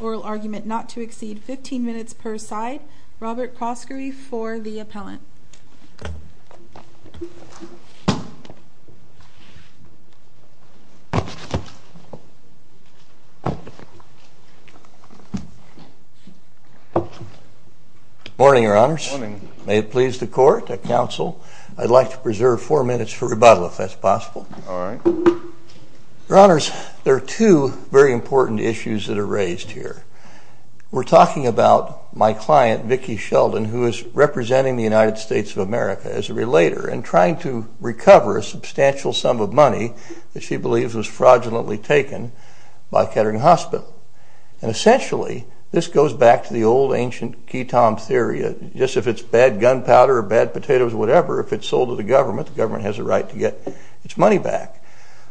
Oral Argument not to exceed 15 minutes per side. Robert Proskury for the Appellant. Morning, Your Honors. May it please the Court, the Council, I'd like to preserve four minutes for rebuttal, if that's possible. Your Honors, there are two very important issues that are raised here. We're talking about my client, Vicki Sheldon, who is representing the United States of America as a relator and trying to recover a substantial sum of money that she believes was fraudulently taken by Kettering Hospital. And essentially, this goes back to the old ancient key tom theory, just if it's bad gunpowder or bad potatoes or whatever, if it's sold to the government, the government has a right to get its money back.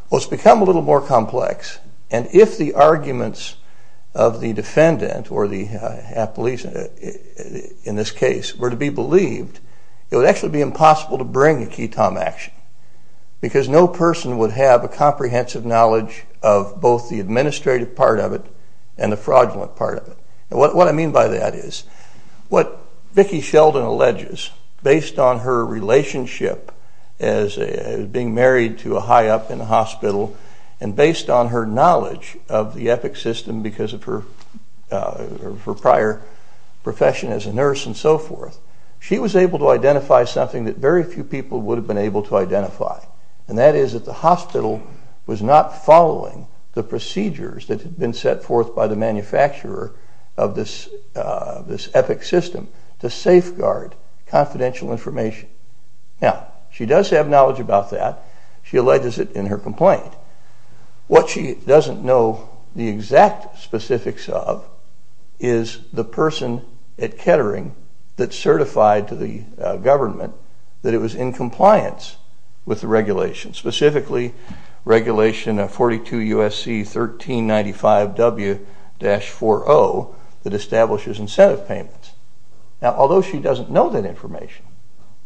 Well, it's become a little more complex. And if the arguments of the defendant or the appellee, in this case, were to be believed, it would actually be impossible to bring a key tom action. Because no person would have a comprehensive knowledge of both the administrative part of it and the fraudulent part of it. And what I mean by that is, what Vicki Sheldon alleges, based on her relationship as being married to a high up in the hospital, and based on her knowledge of the ethics system because of her prior profession as a nurse and so forth, she was able to identify something that very few people would have been able to identify. And that is that the hospital was not following the procedures that had been set forth by the manufacturer of this ethics system to safeguard confidential information. Now, she does have knowledge about that. She alleges it in her complaint. What she doesn't know the exact specifics of is the person at Kettering that certified to the government that it was in compliance with the regulations, specifically regulation 42 U.S.C. 1395 W-40 that establishes incentive payments. Now, although she doesn't know that information,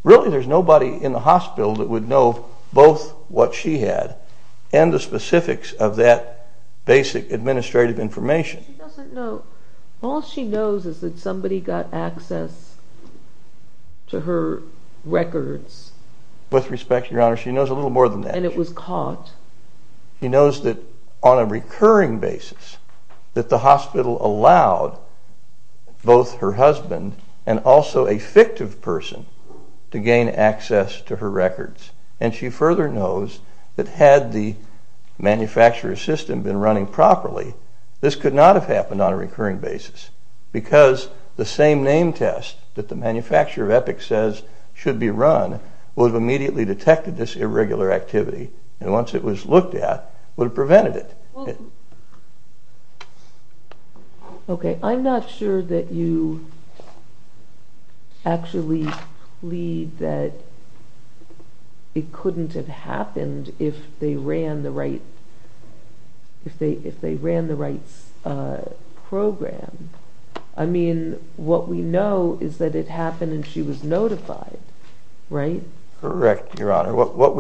really there's nobody in the hospital that would know both what she had and the specifics of that basic administrative information. She doesn't know. All she knows is that somebody got access to her records. With respect, Your Honor, she knows a little more than that. And it was caught. She knows that on a recurring basis, that the hospital allowed both her husband and also a fictive person to gain access to her records. And she further knows that had the manufacturer's system been running properly, this could not have happened on a recurring basis because the same name test that the manufacturer of ethics says should be run would have immediately detected this irregular activity. And once it was looked at, would have prevented it. Okay. I'm not sure that you actually plead that it couldn't have happened if they ran the right program. I mean, what we know is that it happened and she was notified, right? Correct, Your Honor. What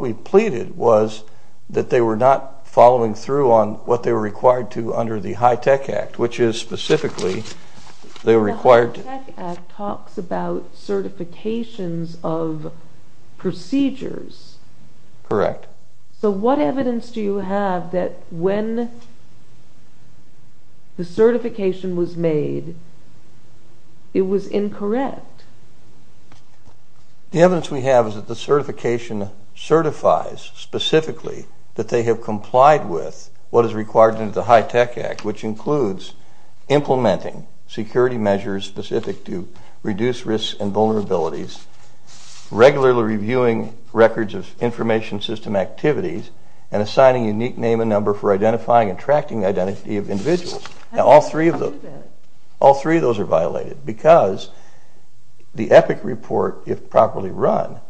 we pleaded was that they were not following through on what they were required to under the HITECH Act, which is specifically they were required to… The HITECH Act talks about certifications of procedures. Correct. So what evidence do you have that when the certification was made, it was incorrect? The evidence we have is that the certification certifies specifically that they have complied with what is required under the HITECH Act, which includes implementing security measures specific to reduce risk and vulnerabilities, regularly reviewing records of information system activities, and assigning a unique name and number for identifying and tracking the identity of individuals. How do you know that? All three of those are violated because the EPIC report, if properly run,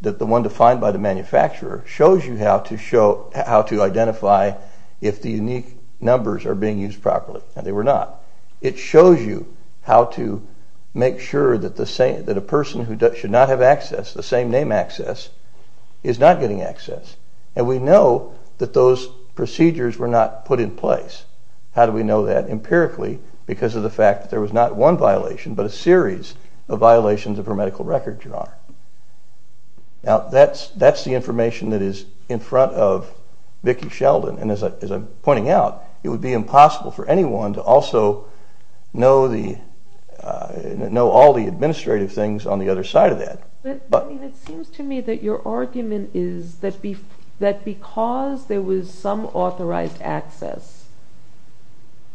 that the one defined by the manufacturer shows you how to identify if the unique numbers are being used properly, and they were not. It shows you how to make sure that a person who should not have access, the same name access, is not getting access. And we know that those procedures were not put in place. How do we know that? Empirically, because of the fact that there was not one violation, but a series of violations of her medical records, Your Honor. Now that's the information that is in front of Vicki Sheldon, and as I'm pointing out, it would be impossible for anyone to also know all the administrative things on the other side of that. It seems to me that your argument is that because there was some authorized access...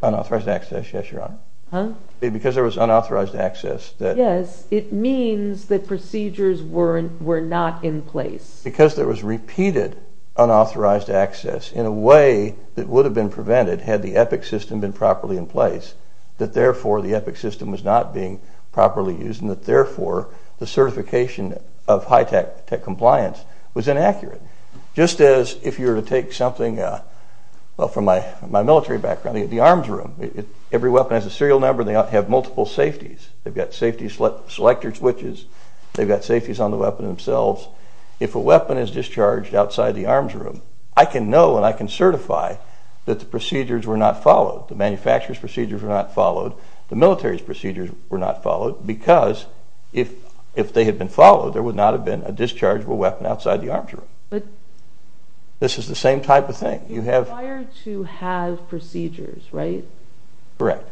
Unauthorized access, yes, Your Honor. Because there was unauthorized access... Yes, it means that procedures were not in place. Because there was repeated unauthorized access, in a way that would have been prevented had the EPIC system been properly in place, that therefore the EPIC system was not being properly used, and that therefore the certification of high-tech compliance was inaccurate. Just as if you were to take something from my military background, the arms room, every weapon has a serial number, and they have multiple safeties. They've got safety selector switches. They've got safeties on the weapon themselves. If a weapon is discharged outside the arms room, I can know and I can certify that the procedures were not followed. The manufacturer's procedures were not followed. The military's procedures were not followed because if they had been followed, there would not have been a dischargeable weapon outside the arms room. But... This is the same type of thing. You require to have procedures, right? Correct.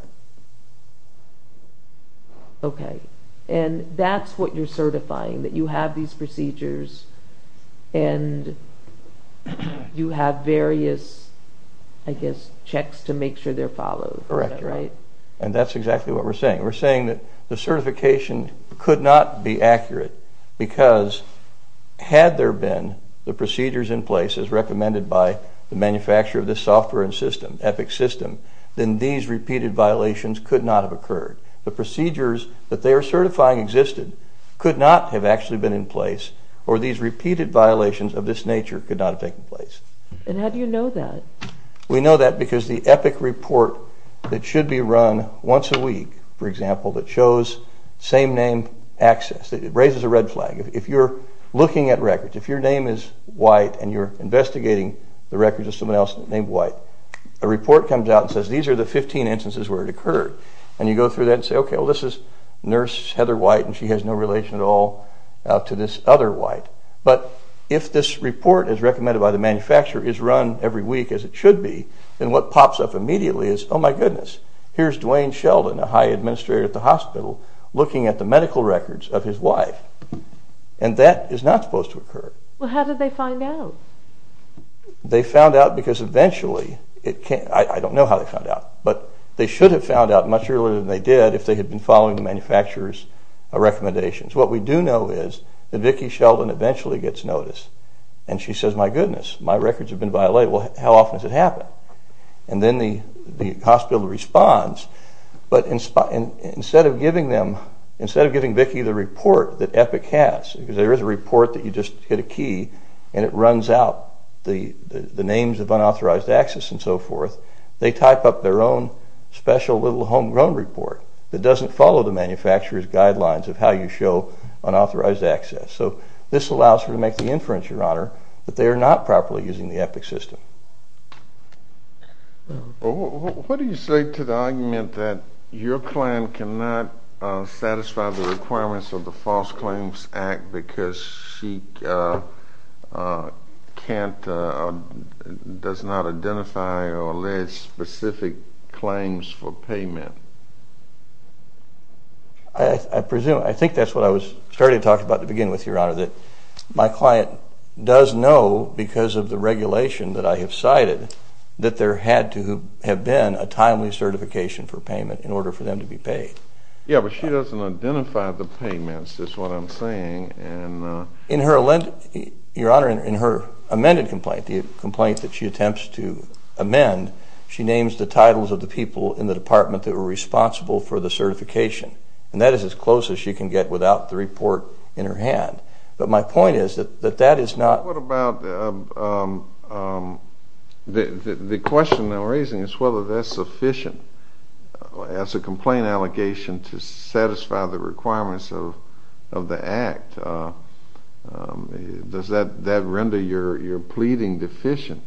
Okay. And that's what you're certifying, that you have these procedures and you have various, I guess, checks to make sure they're followed. Correct. Right? And that's exactly what we're saying. We're saying that the certification could not be accurate because had there been the procedures in place, as recommended by the manufacturer of this software and system, EPIC system, then these repeated violations could not have occurred. The procedures that they are certifying existed could not have actually been in place or these repeated violations of this nature could not have taken place. And how do you know that? We know that because the EPIC report that should be run once a week, for example, that shows same-name access, it raises a red flag. If you're looking at records, if your name is White and you're investigating the records of someone else named White, a report comes out and says, these are the 15 instances where it occurred. And you go through that and say, okay, well this is Nurse Heather White and she has no relation at all to this other White. But if this report, as recommended by the manufacturer, is run every week as it should be, then what pops up immediately is, oh my goodness, here's Duane Sheldon, a high administrator at the hospital, looking at the medical records of his wife. And that is not supposed to occur. Well, how did they find out? They found out because eventually, I don't know how they found out, but they should have found out much earlier than they did if they had been following the manufacturer's recommendations. What we do know is that Vicki Sheldon eventually gets notice and she says, my goodness, my records have been violated. Well, how often does it happen? And then the hospital responds, but instead of giving Vicki the report that EPIC has, because there is a report that you just hit a key and it runs out the names of unauthorized access and so forth, they type up their own special little homegrown report that doesn't follow the manufacturer's guidelines of how you show unauthorized access. So this allows her to make the inference, Your Honor, that they are not properly using the EPIC system. Well, what do you say to the argument that your client cannot satisfy the requirements of the False Claims Act because she can't, does not identify or allege specific claims for payment? I presume, I think that's what I was starting to talk about to begin with, Your Honor, that my client does know because of the regulation that I have cited that there had to have been a timely certification for payment in order for them to be paid. Yeah, but she doesn't identify the payments, is what I'm saying. Your Honor, in her amended complaint, the complaint that she attempts to amend, she names the titles of the people in the department that were responsible for the certification, and that is as close as she can get without the report in her hand. But my point is that that is not... Well, what about the question I'm raising is whether that's sufficient as a complaint allegation to satisfy the requirements of the Act. Does that render your pleading deficient?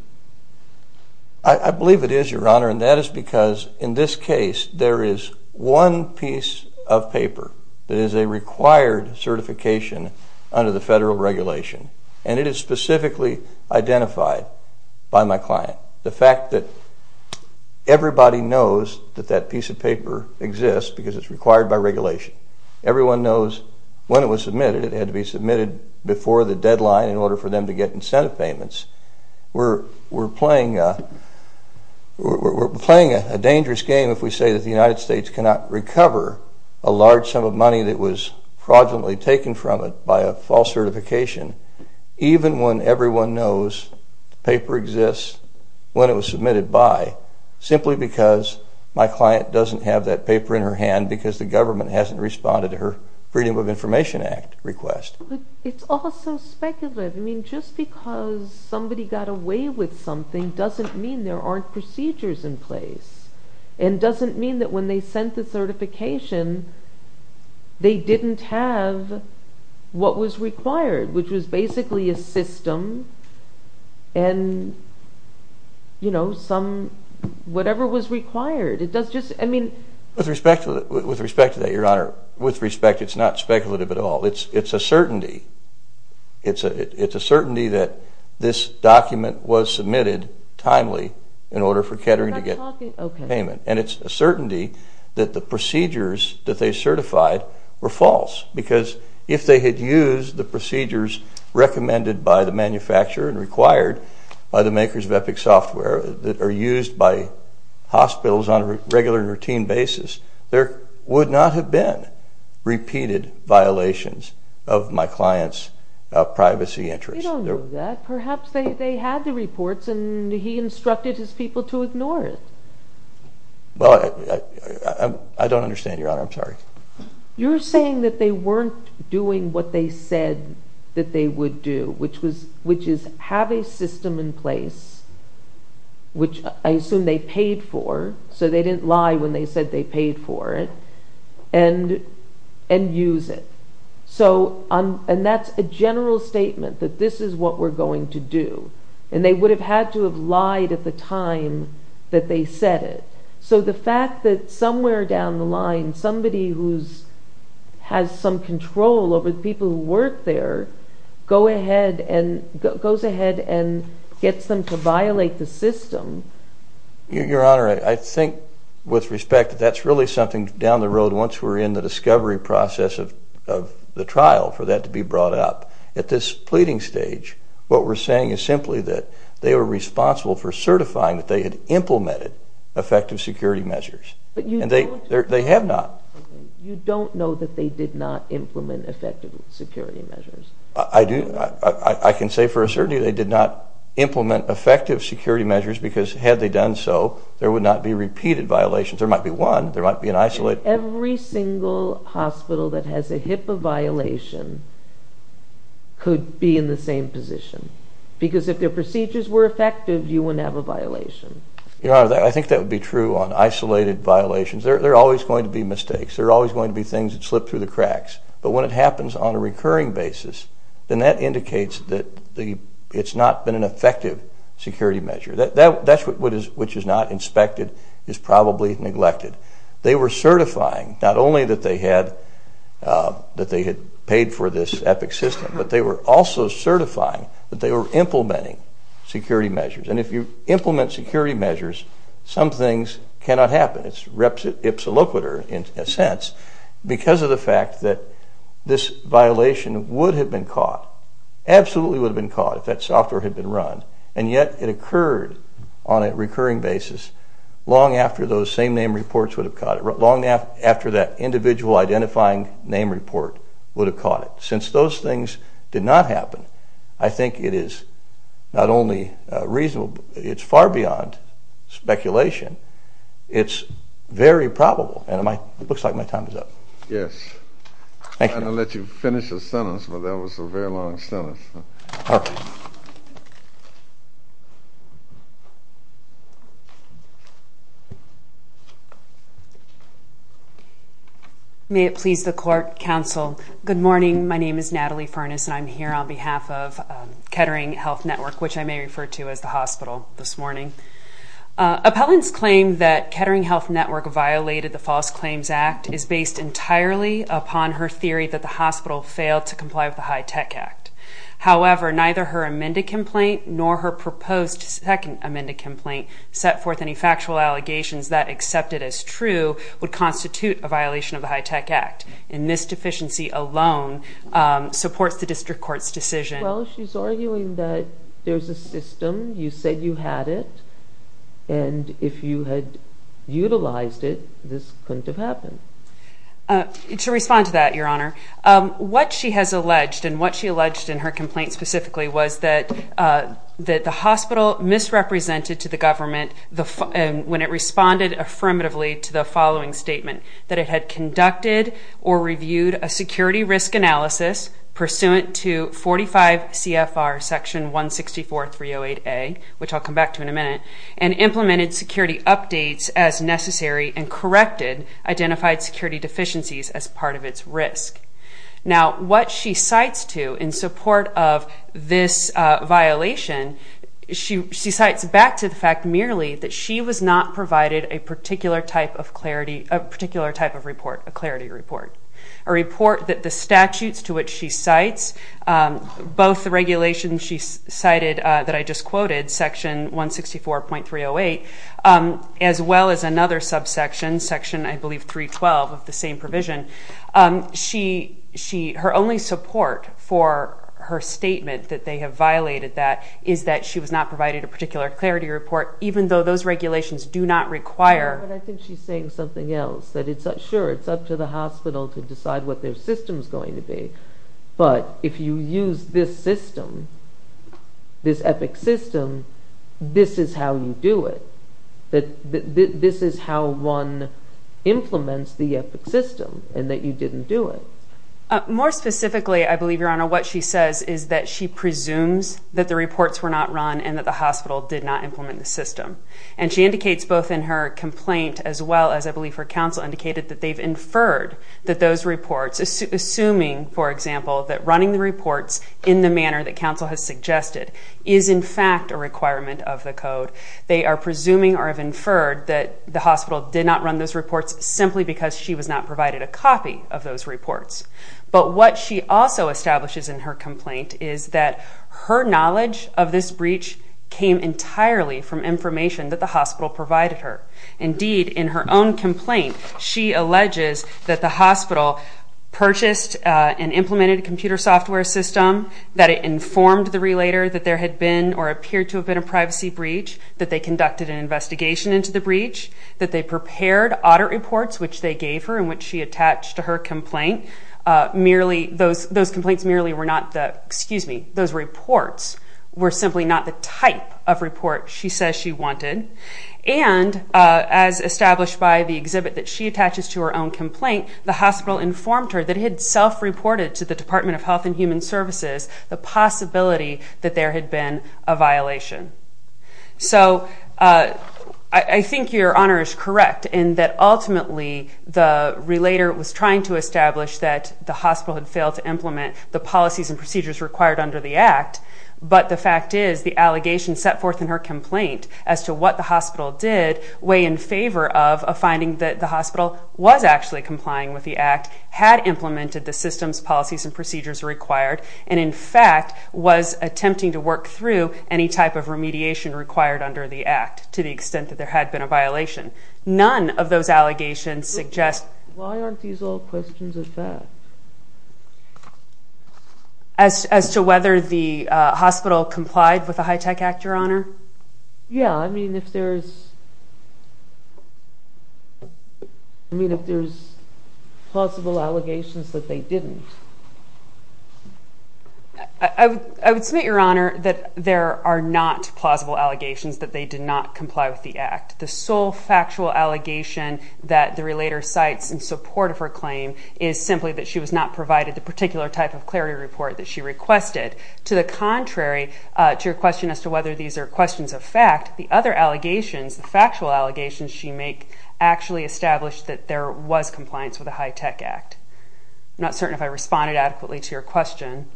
I believe it is, Your Honor, and that is because in this case there is one piece of paper that is a required certification under the federal regulation, and it is specifically identified by my client. The fact that everybody knows that that piece of paper exists because it's required by regulation. Everyone knows when it was submitted. It had to be submitted before the deadline in order for them to get incentive payments. We're playing a dangerous game if we say that the United States cannot recover a large sum of money that was fraudulently taken from it by a false certification, even when everyone knows the paper exists, when it was submitted by, simply because my client doesn't have that paper in her hand because the government hasn't responded to her Freedom of Information Act request. It's all so speculative. I mean, just because somebody got away with something doesn't mean there aren't procedures in place and doesn't mean that when they sent the certification they didn't have what was required, which was basically a system and, you know, whatever was required. With respect to that, Your Honor, with respect it's not speculative at all. It's a certainty. It's a certainty that this document was submitted timely in order for Kettering to get payment. And it's a certainty that the procedures that they certified were false because if they had used the procedures recommended by the manufacturer and required by the makers of Epic Software that are used by hospitals on a regular and routine basis, there would not have been repeated violations of my client's privacy interests. You don't know that. Perhaps they had the reports and he instructed his people to ignore it. Well, I don't understand, Your Honor. I'm sorry. You're saying that they weren't doing what they said that they would do, which is have a system in place, which I assume they paid for, so they didn't lie when they said they paid for it, and use it. And that's a general statement, that this is what we're going to do. And they would have had to have lied at the time that they said it. So the fact that somewhere down the line somebody who has some control over the people who work there goes ahead and gets them to violate the system. Your Honor, I think, with respect, that's really something down the road once we're in the discovery process of the trial for that to be brought up. At this pleading stage, what we're saying is simply that they were responsible for certifying that they had implemented effective security measures. And they have not. You don't know that they did not implement effective security measures? I do. I can say for a certainty they did not implement effective security measures because had they done so, there would not be repeated violations. There might be one. There might be an isolated... Every single hospital that has a HIPAA violation could be in the same position. Because if their procedures were effective, you wouldn't have a violation. Your Honor, I think that would be true on isolated violations. There are always going to be mistakes. There are always going to be things that slip through the cracks. But when it happens on a recurring basis, then that indicates that it's not been an effective security measure. That's what is not inspected, is probably neglected. They were certifying, not only that they had paid for this EPIC system, but they were also certifying that they were implementing security measures. And if you implement security measures, some things cannot happen. It's reps it ipsa loquitur in a sense because of the fact that this violation would have been caught, absolutely would have been caught if that software had been run. And yet it occurred on a recurring basis long after those same name reports would have caught it, long after that individual identifying name report would have caught it. Since those things did not happen, I think it is not only reasonable, it's far beyond speculation. It's very probable. And it looks like my time is up. Yes. Thank you. I'm going to let you finish a sentence, but that was a very long sentence. All right. May it please the Court, Counsel. Good morning. My name is Natalie Furness and I'm here on behalf of Kettering Health Network, which I may refer to as the hospital this morning. Appellant's claim that Kettering Health Network violated the False Claims Act is based entirely upon her theory that the hospital failed to comply with the High Tech Act. However, neither her amended complaint nor her proposed second amended complaint set forth any factual allegations that accept it as true, would constitute a violation of the High Tech Act. And this deficiency alone supports the District Court's decision. Well, she's arguing that there's a system, you said you had it, and if you had utilized it, this couldn't have happened. To respond to that, Your Honor, what she has alleged, and what she alleged in her complaint specifically, was that the hospital misrepresented to the government when it responded affirmatively to the following statement, that it had conducted or reviewed a security risk analysis pursuant to 45 CFR section 164.308A, which I'll come back to in a minute, and implemented security updates as necessary and corrected identified security deficiencies as part of its risk. Now, what she cites to in support of this violation, she cites back to the fact merely that she was not provided a particular type of clarity, a particular type of report, a clarity report. A report that the statutes to which she cites, both the regulations she cited that I just quoted, section 164.308, as well as another subsection, section I believe 312 of the same provision, her only support for her statement that they have violated that is that she was not provided a particular clarity report even though those regulations do not require... But I think she's saying something else, that sure, it's up to the hospital to decide what their system's going to be, but if you use this system, this EPIC system, this is how you do it. This is how one implements the EPIC system, and that you didn't do it. More specifically, I believe, Your Honor, what she says is that she presumes that the reports were not run and that the hospital did not implement the system. And she indicates both in her complaint as well as I believe her counsel indicated that they've inferred that those reports, assuming, for example, that running the reports in the manner that counsel has suggested is in fact a requirement of the code. They are presuming or have inferred that the hospital did not run those reports simply because she was not provided a copy of those reports. But what she also establishes in her complaint is that her knowledge of this breach came entirely from information that the hospital provided her. Indeed, in her own complaint, she alleges that the hospital purchased and implemented a computer software system, that it informed the relator that there had been or appeared to have been a privacy breach, that they conducted an investigation into the breach, that they prepared audit reports, which they gave her and which she attached to her complaint. Those complaints merely were not the, excuse me, those reports were simply not the type of report she says she wanted. And as established by the exhibit that she attaches to her own complaint, the hospital informed her that it had self-reported to the Department of Health and Human Services the possibility that there had been a violation. So I think your honor is correct in that ultimately the relator was trying to establish that the hospital had failed to implement the policies and procedures required under the Act, but the fact is the allegations set forth in her complaint as to what the hospital did weigh in favor of a finding that the hospital was actually complying with the Act, had implemented the systems, policies, and procedures required, and in fact was attempting to work through any type of remediation required under the Act to the extent that there had been a violation. None of those allegations suggest... Why aren't these all questions of fact? As to whether the hospital complied with the HITECH Act, your honor? Yeah, I mean if there's I mean if there's plausible allegations that they didn't. I would submit, your honor, that there are not plausible allegations that they did not The factual allegation that the relator cites in support of her claim is simply that she was not provided the particular type of clarity report that she requested. To the contrary, to your question as to whether these are questions of fact, the other allegations, the factual allegations she make actually establish that there was compliance with the HITECH Act. I'm not certain if I responded adequately to your question.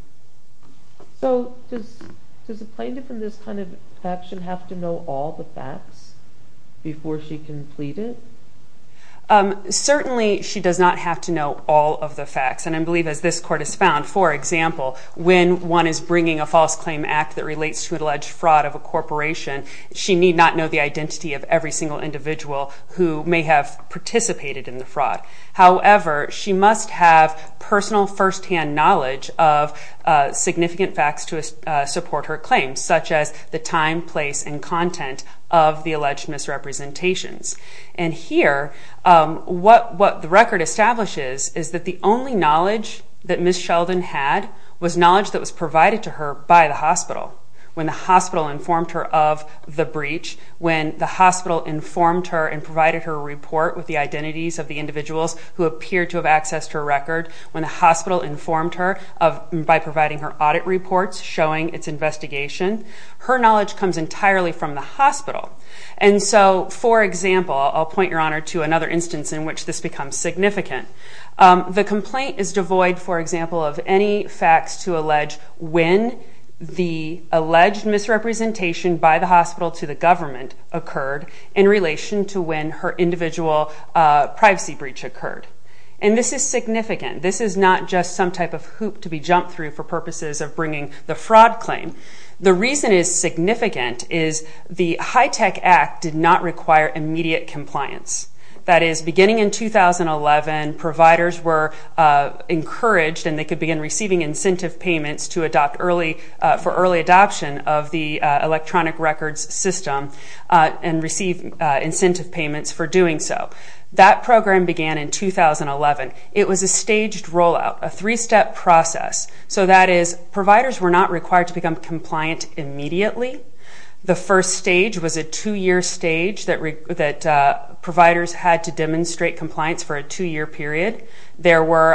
So does a plaintiff in this kind of action have to know all the facts to complete it? Certainly, she does not have to know all of the facts, and I believe as this court has found, for example, when one is bringing a false claim act that relates to an alleged fraud of a corporation, she need not know the identity of every single individual who may have participated in the fraud. However, she must have personal first-hand knowledge of significant facts to support her claim, such as the time, place, and content of the alleged misrepresentations. And here, what the record establishes is that the only knowledge that Ms. Sheldon had was knowledge that was provided to her by the hospital. When the hospital informed her of the breach, when the hospital informed her and provided her a report with the identities of the individuals who appeared to have accessed her record, when the hospital informed her by providing her audit reports showing its investigation, her knowledge comes entirely from the hospital. And so, for example, I'll point your honor to another instance in which this becomes significant. The complaint is devoid, for example, of any facts to allege when the alleged misrepresentation by the hospital to the government occurred in relation to when her individual privacy breach occurred. And this is significant. This is not just some type of hoop to be jumped through for purposes of bringing the fraud claim. The reason is significant is the HITECH Act did not require immediate compliance. That is, beginning in 2011, providers were encouraged and they could begin receiving incentive payments for early adoption of the electronic records system and receive incentive payments for doing so. That program began in 2011. It was a staged rollout, a three-step process. So that is, providers were not required to become compliant immediately. The first stage was a two-year stage that providers had to demonstrate compliance for a two-year period. There were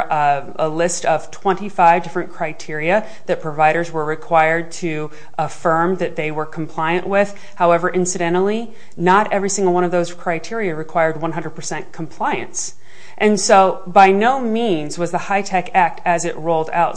a list of 25 different criteria that providers were required to affirm that they were compliant with. However, incidentally, not every single one of those criteria required 100% compliance. And so, by no means was the HITECH Act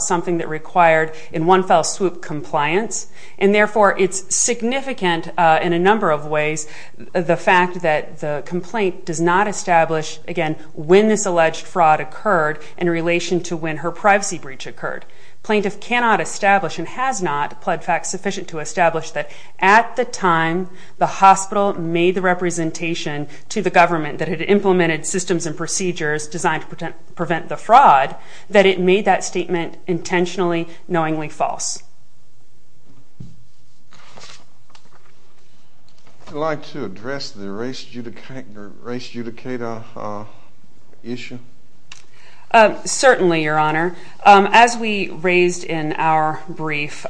something that required, in one fell swoop, compliance. And therefore, it's significant in a number of ways, the fact that the complaint does not establish, again, when this alleged fraud occurred in relation to when her privacy breach occurred. Plaintiff cannot establish, and has not, sufficient to establish, that at the time the hospital made the representation to the government that it implemented systems and procedures designed to prevent the fraud, that it made that statement intentionally, knowingly false. Would you like to address the race adjudicator issue? Certainly, Your Honor. As we raised in our brief,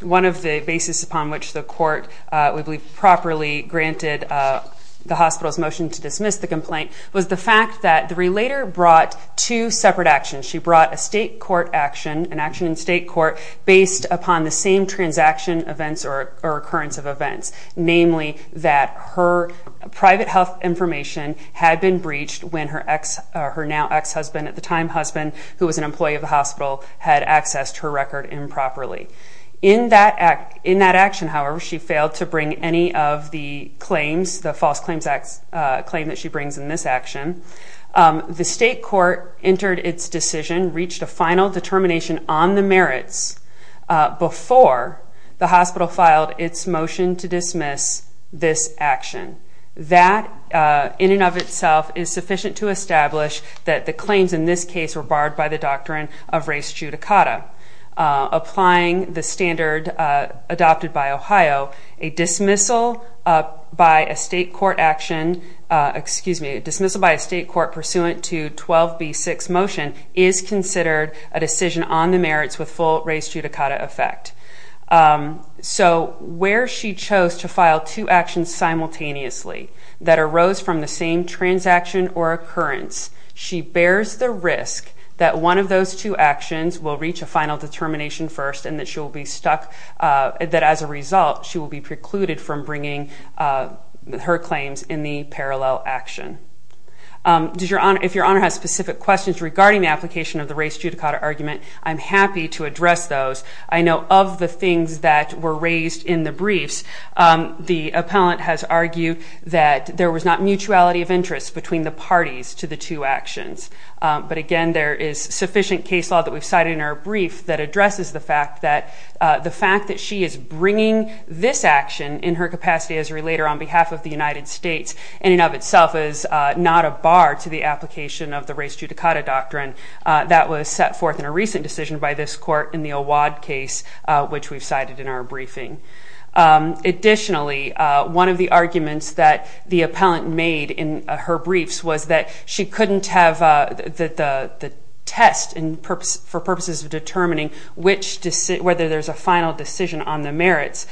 one of the basis upon which the court would be properly granted the hospital's motion to dismiss the complaint was the fact that the court action, she brought a state court action, an action in state court, based upon the same transaction events or occurrence of events, namely that her private health information had been breached when her now ex-husband, at the time husband, who was an employee of the hospital, had accessed her record improperly. In that action, however, she failed to bring any of the claims, the false claims that she brings in this action. The state court entered its decision, reached a final determination on the merits before the hospital filed its motion to dismiss this action. That, in and of itself, is sufficient to establish that the claims in this case were barred by the doctrine of race judicata. Applying the standard adopted by Ohio, a dismissal by a state court action, excuse me, a dismissal by a state court pursuant to 12b6 motion is considered a decision on the merits with full race judicata effect. Where she chose to file two actions simultaneously that arose from the same transaction or occurrence, she bears the risk that one of those two actions will reach a final determination first and that she will be stuck, that as a result she will be precluded from bringing her claims in the parallel action. If your Honor has specific questions regarding the application of the race judicata argument, I'm happy to address those. I know of the things that were raised in the briefs, the appellant has argued that there was not mutuality of interest between the parties to the two actions. But again, there is sufficient case law that we've cited in our brief that addresses the fact that the fact that she is bringing this action in her capacity as a relator on behalf of the United States in and of itself is not a bar to the application of the race judicata doctrine that was set forth in a recent decision by this court in the Awad case which we've cited in our briefing. Additionally, one of the arguments that the appellant made in her briefs was that she couldn't have the test for purposes of determining whether there's a final decision on the merits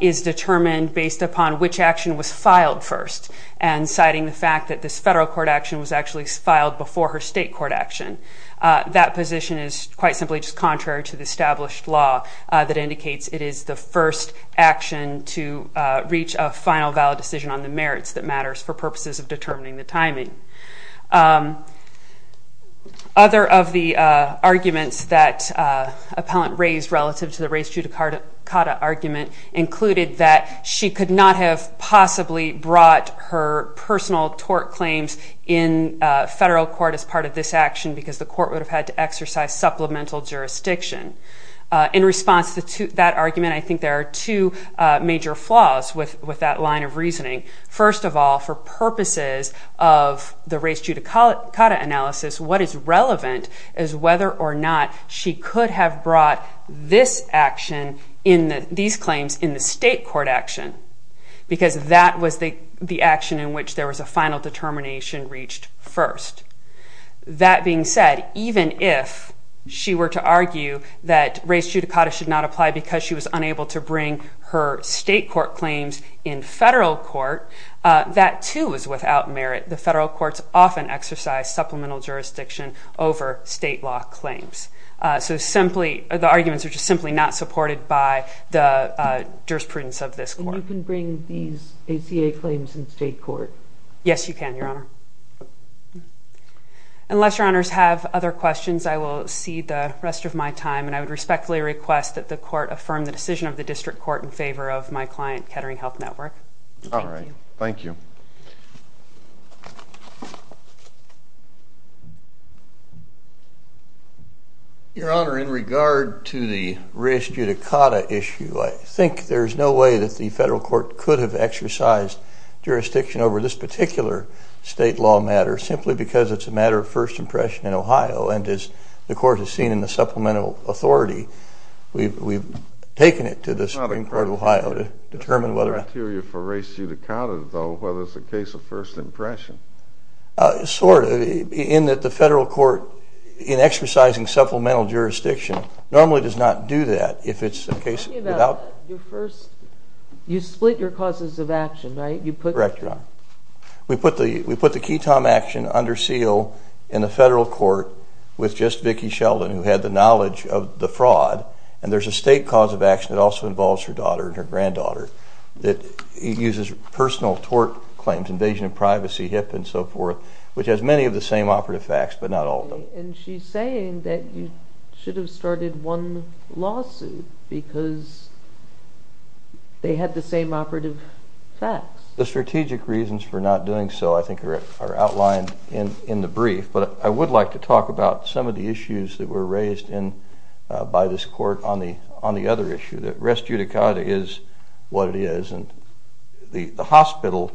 is determined based upon which action was filed first and citing the fact that this federal court action was actually filed before her state court action. That position is quite simply just contrary to the established law that indicates it is the first action to reach a final valid decision on the merits that matters for purposes of determining the timing. Other of the arguments that the appellant raised relative to the race judicata argument included that she could not have possibly brought her personal tort claims in federal court as part of this action because the court would have had to exercise supplemental jurisdiction. In response to that argument, I think there are two major flaws with that line of reasoning. First of all, for purposes of the race judicata analysis, what is relevant is whether or not she could have brought this action in these claims in the state court action because that was the action in which there was a final determination reached first. That being said, even if she were to argue that race judicata should not apply because she was unable to bring her state court claims in federal court, that too is without merit. The federal courts often exercise supplemental jurisdiction over state law claims. The arguments are just simply not supported by the jurisprudence of this court. Can you bring these ACA claims in state court? Yes, you can, Your Honor. Unless Your Honors have other questions, I will see the rest of my time and I would respectfully request that the court affirm the decision of the district court in favor of my client, Kettering Health Network. Thank you. Your Honor, in regard to the race judicata issue, I think there is no way that the federal court could have exercised jurisdiction over this particular state law matter simply because it's a matter of first impression in Ohio, and as the court has seen in the supplemental authority, we've taken it to the Supreme Court of Ohio to determine whether... There's no criteria for race judicata though, whether it's a case of first impression. Sort of, in that the federal court in exercising supplemental jurisdiction normally does not do that if it's a case without... Tell me about your first... You split your causes of action, right? You put... Correct, Your Honor. We put the Ketom action under seal in the federal court with just Vicki Sheldon who had the knowledge of the fraud and there's a state cause of action that also involves her daughter and her granddaughter that uses personal tort claims, invasion of privacy, HIPAA and so forth, which has many of the same operative facts, but not all of them. And she's saying that you should have started one lawsuit because they had the same operative facts. The strategic reasons for not doing so I think are outlined in the brief, but I would like to talk about some of the issues that were raised by this court on the other issue, that race judicata is what it is and the hospital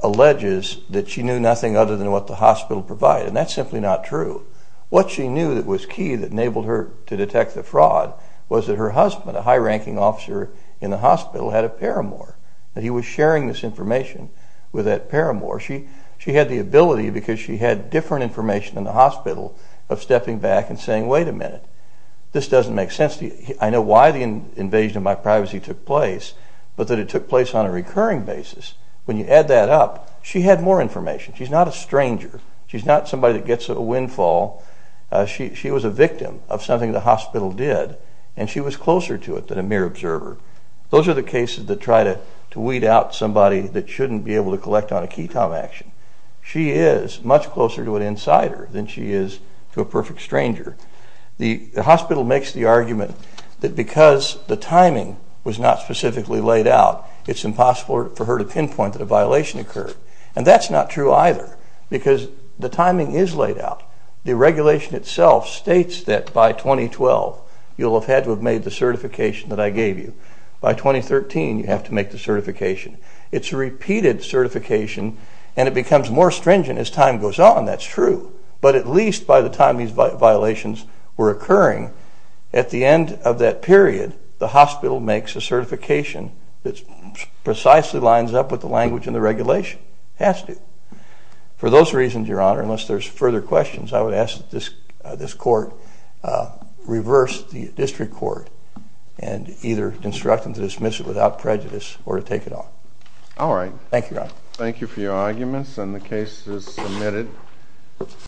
alleges that she knew nothing other than what the hospital provided and that's simply not true. What she knew that was key that enabled her to detect the fraud was that her husband, a high-ranking officer in the hospital, had a paramour. He was sharing this information with that paramour. She had the ability because she had different information than the hospital of stepping back and saying wait a minute, this doesn't make sense to you. I know why the invasion of my privacy took place, but that it took place on a recurring basis. When you add that up, she had more information. She's not a stranger. She's not somebody that gets a windfall. She was a victim of something the hospital did and she was closer to it than a mere observer. Those are the cases that try to weed out somebody that shouldn't be able to collect on a key Tom action. She is much closer to an insider than she is to a perfect stranger. The hospital makes the argument that because the timing was not specifically laid out, it's impossible for her to pinpoint that a violation occurred. That's not true either because the timing is laid out. The regulation itself states that by 2012 you'll have had to have made the certification that I gave you. By 2013 you have to make the certification. It's a repeated certification and it becomes more stringent as time goes on. That's true, but at least by the time these violations were occurring, at the end of that period, the hospital makes a certification that precisely lines up with the language in the regulation. It has to. For those reasons, Your Honor, unless there's further questions, I would ask that this court reverse the district court and either instruct them to dismiss it without prejudice or to take it off. Thank you, Your Honor. Thank you for your arguments and the case is submitted.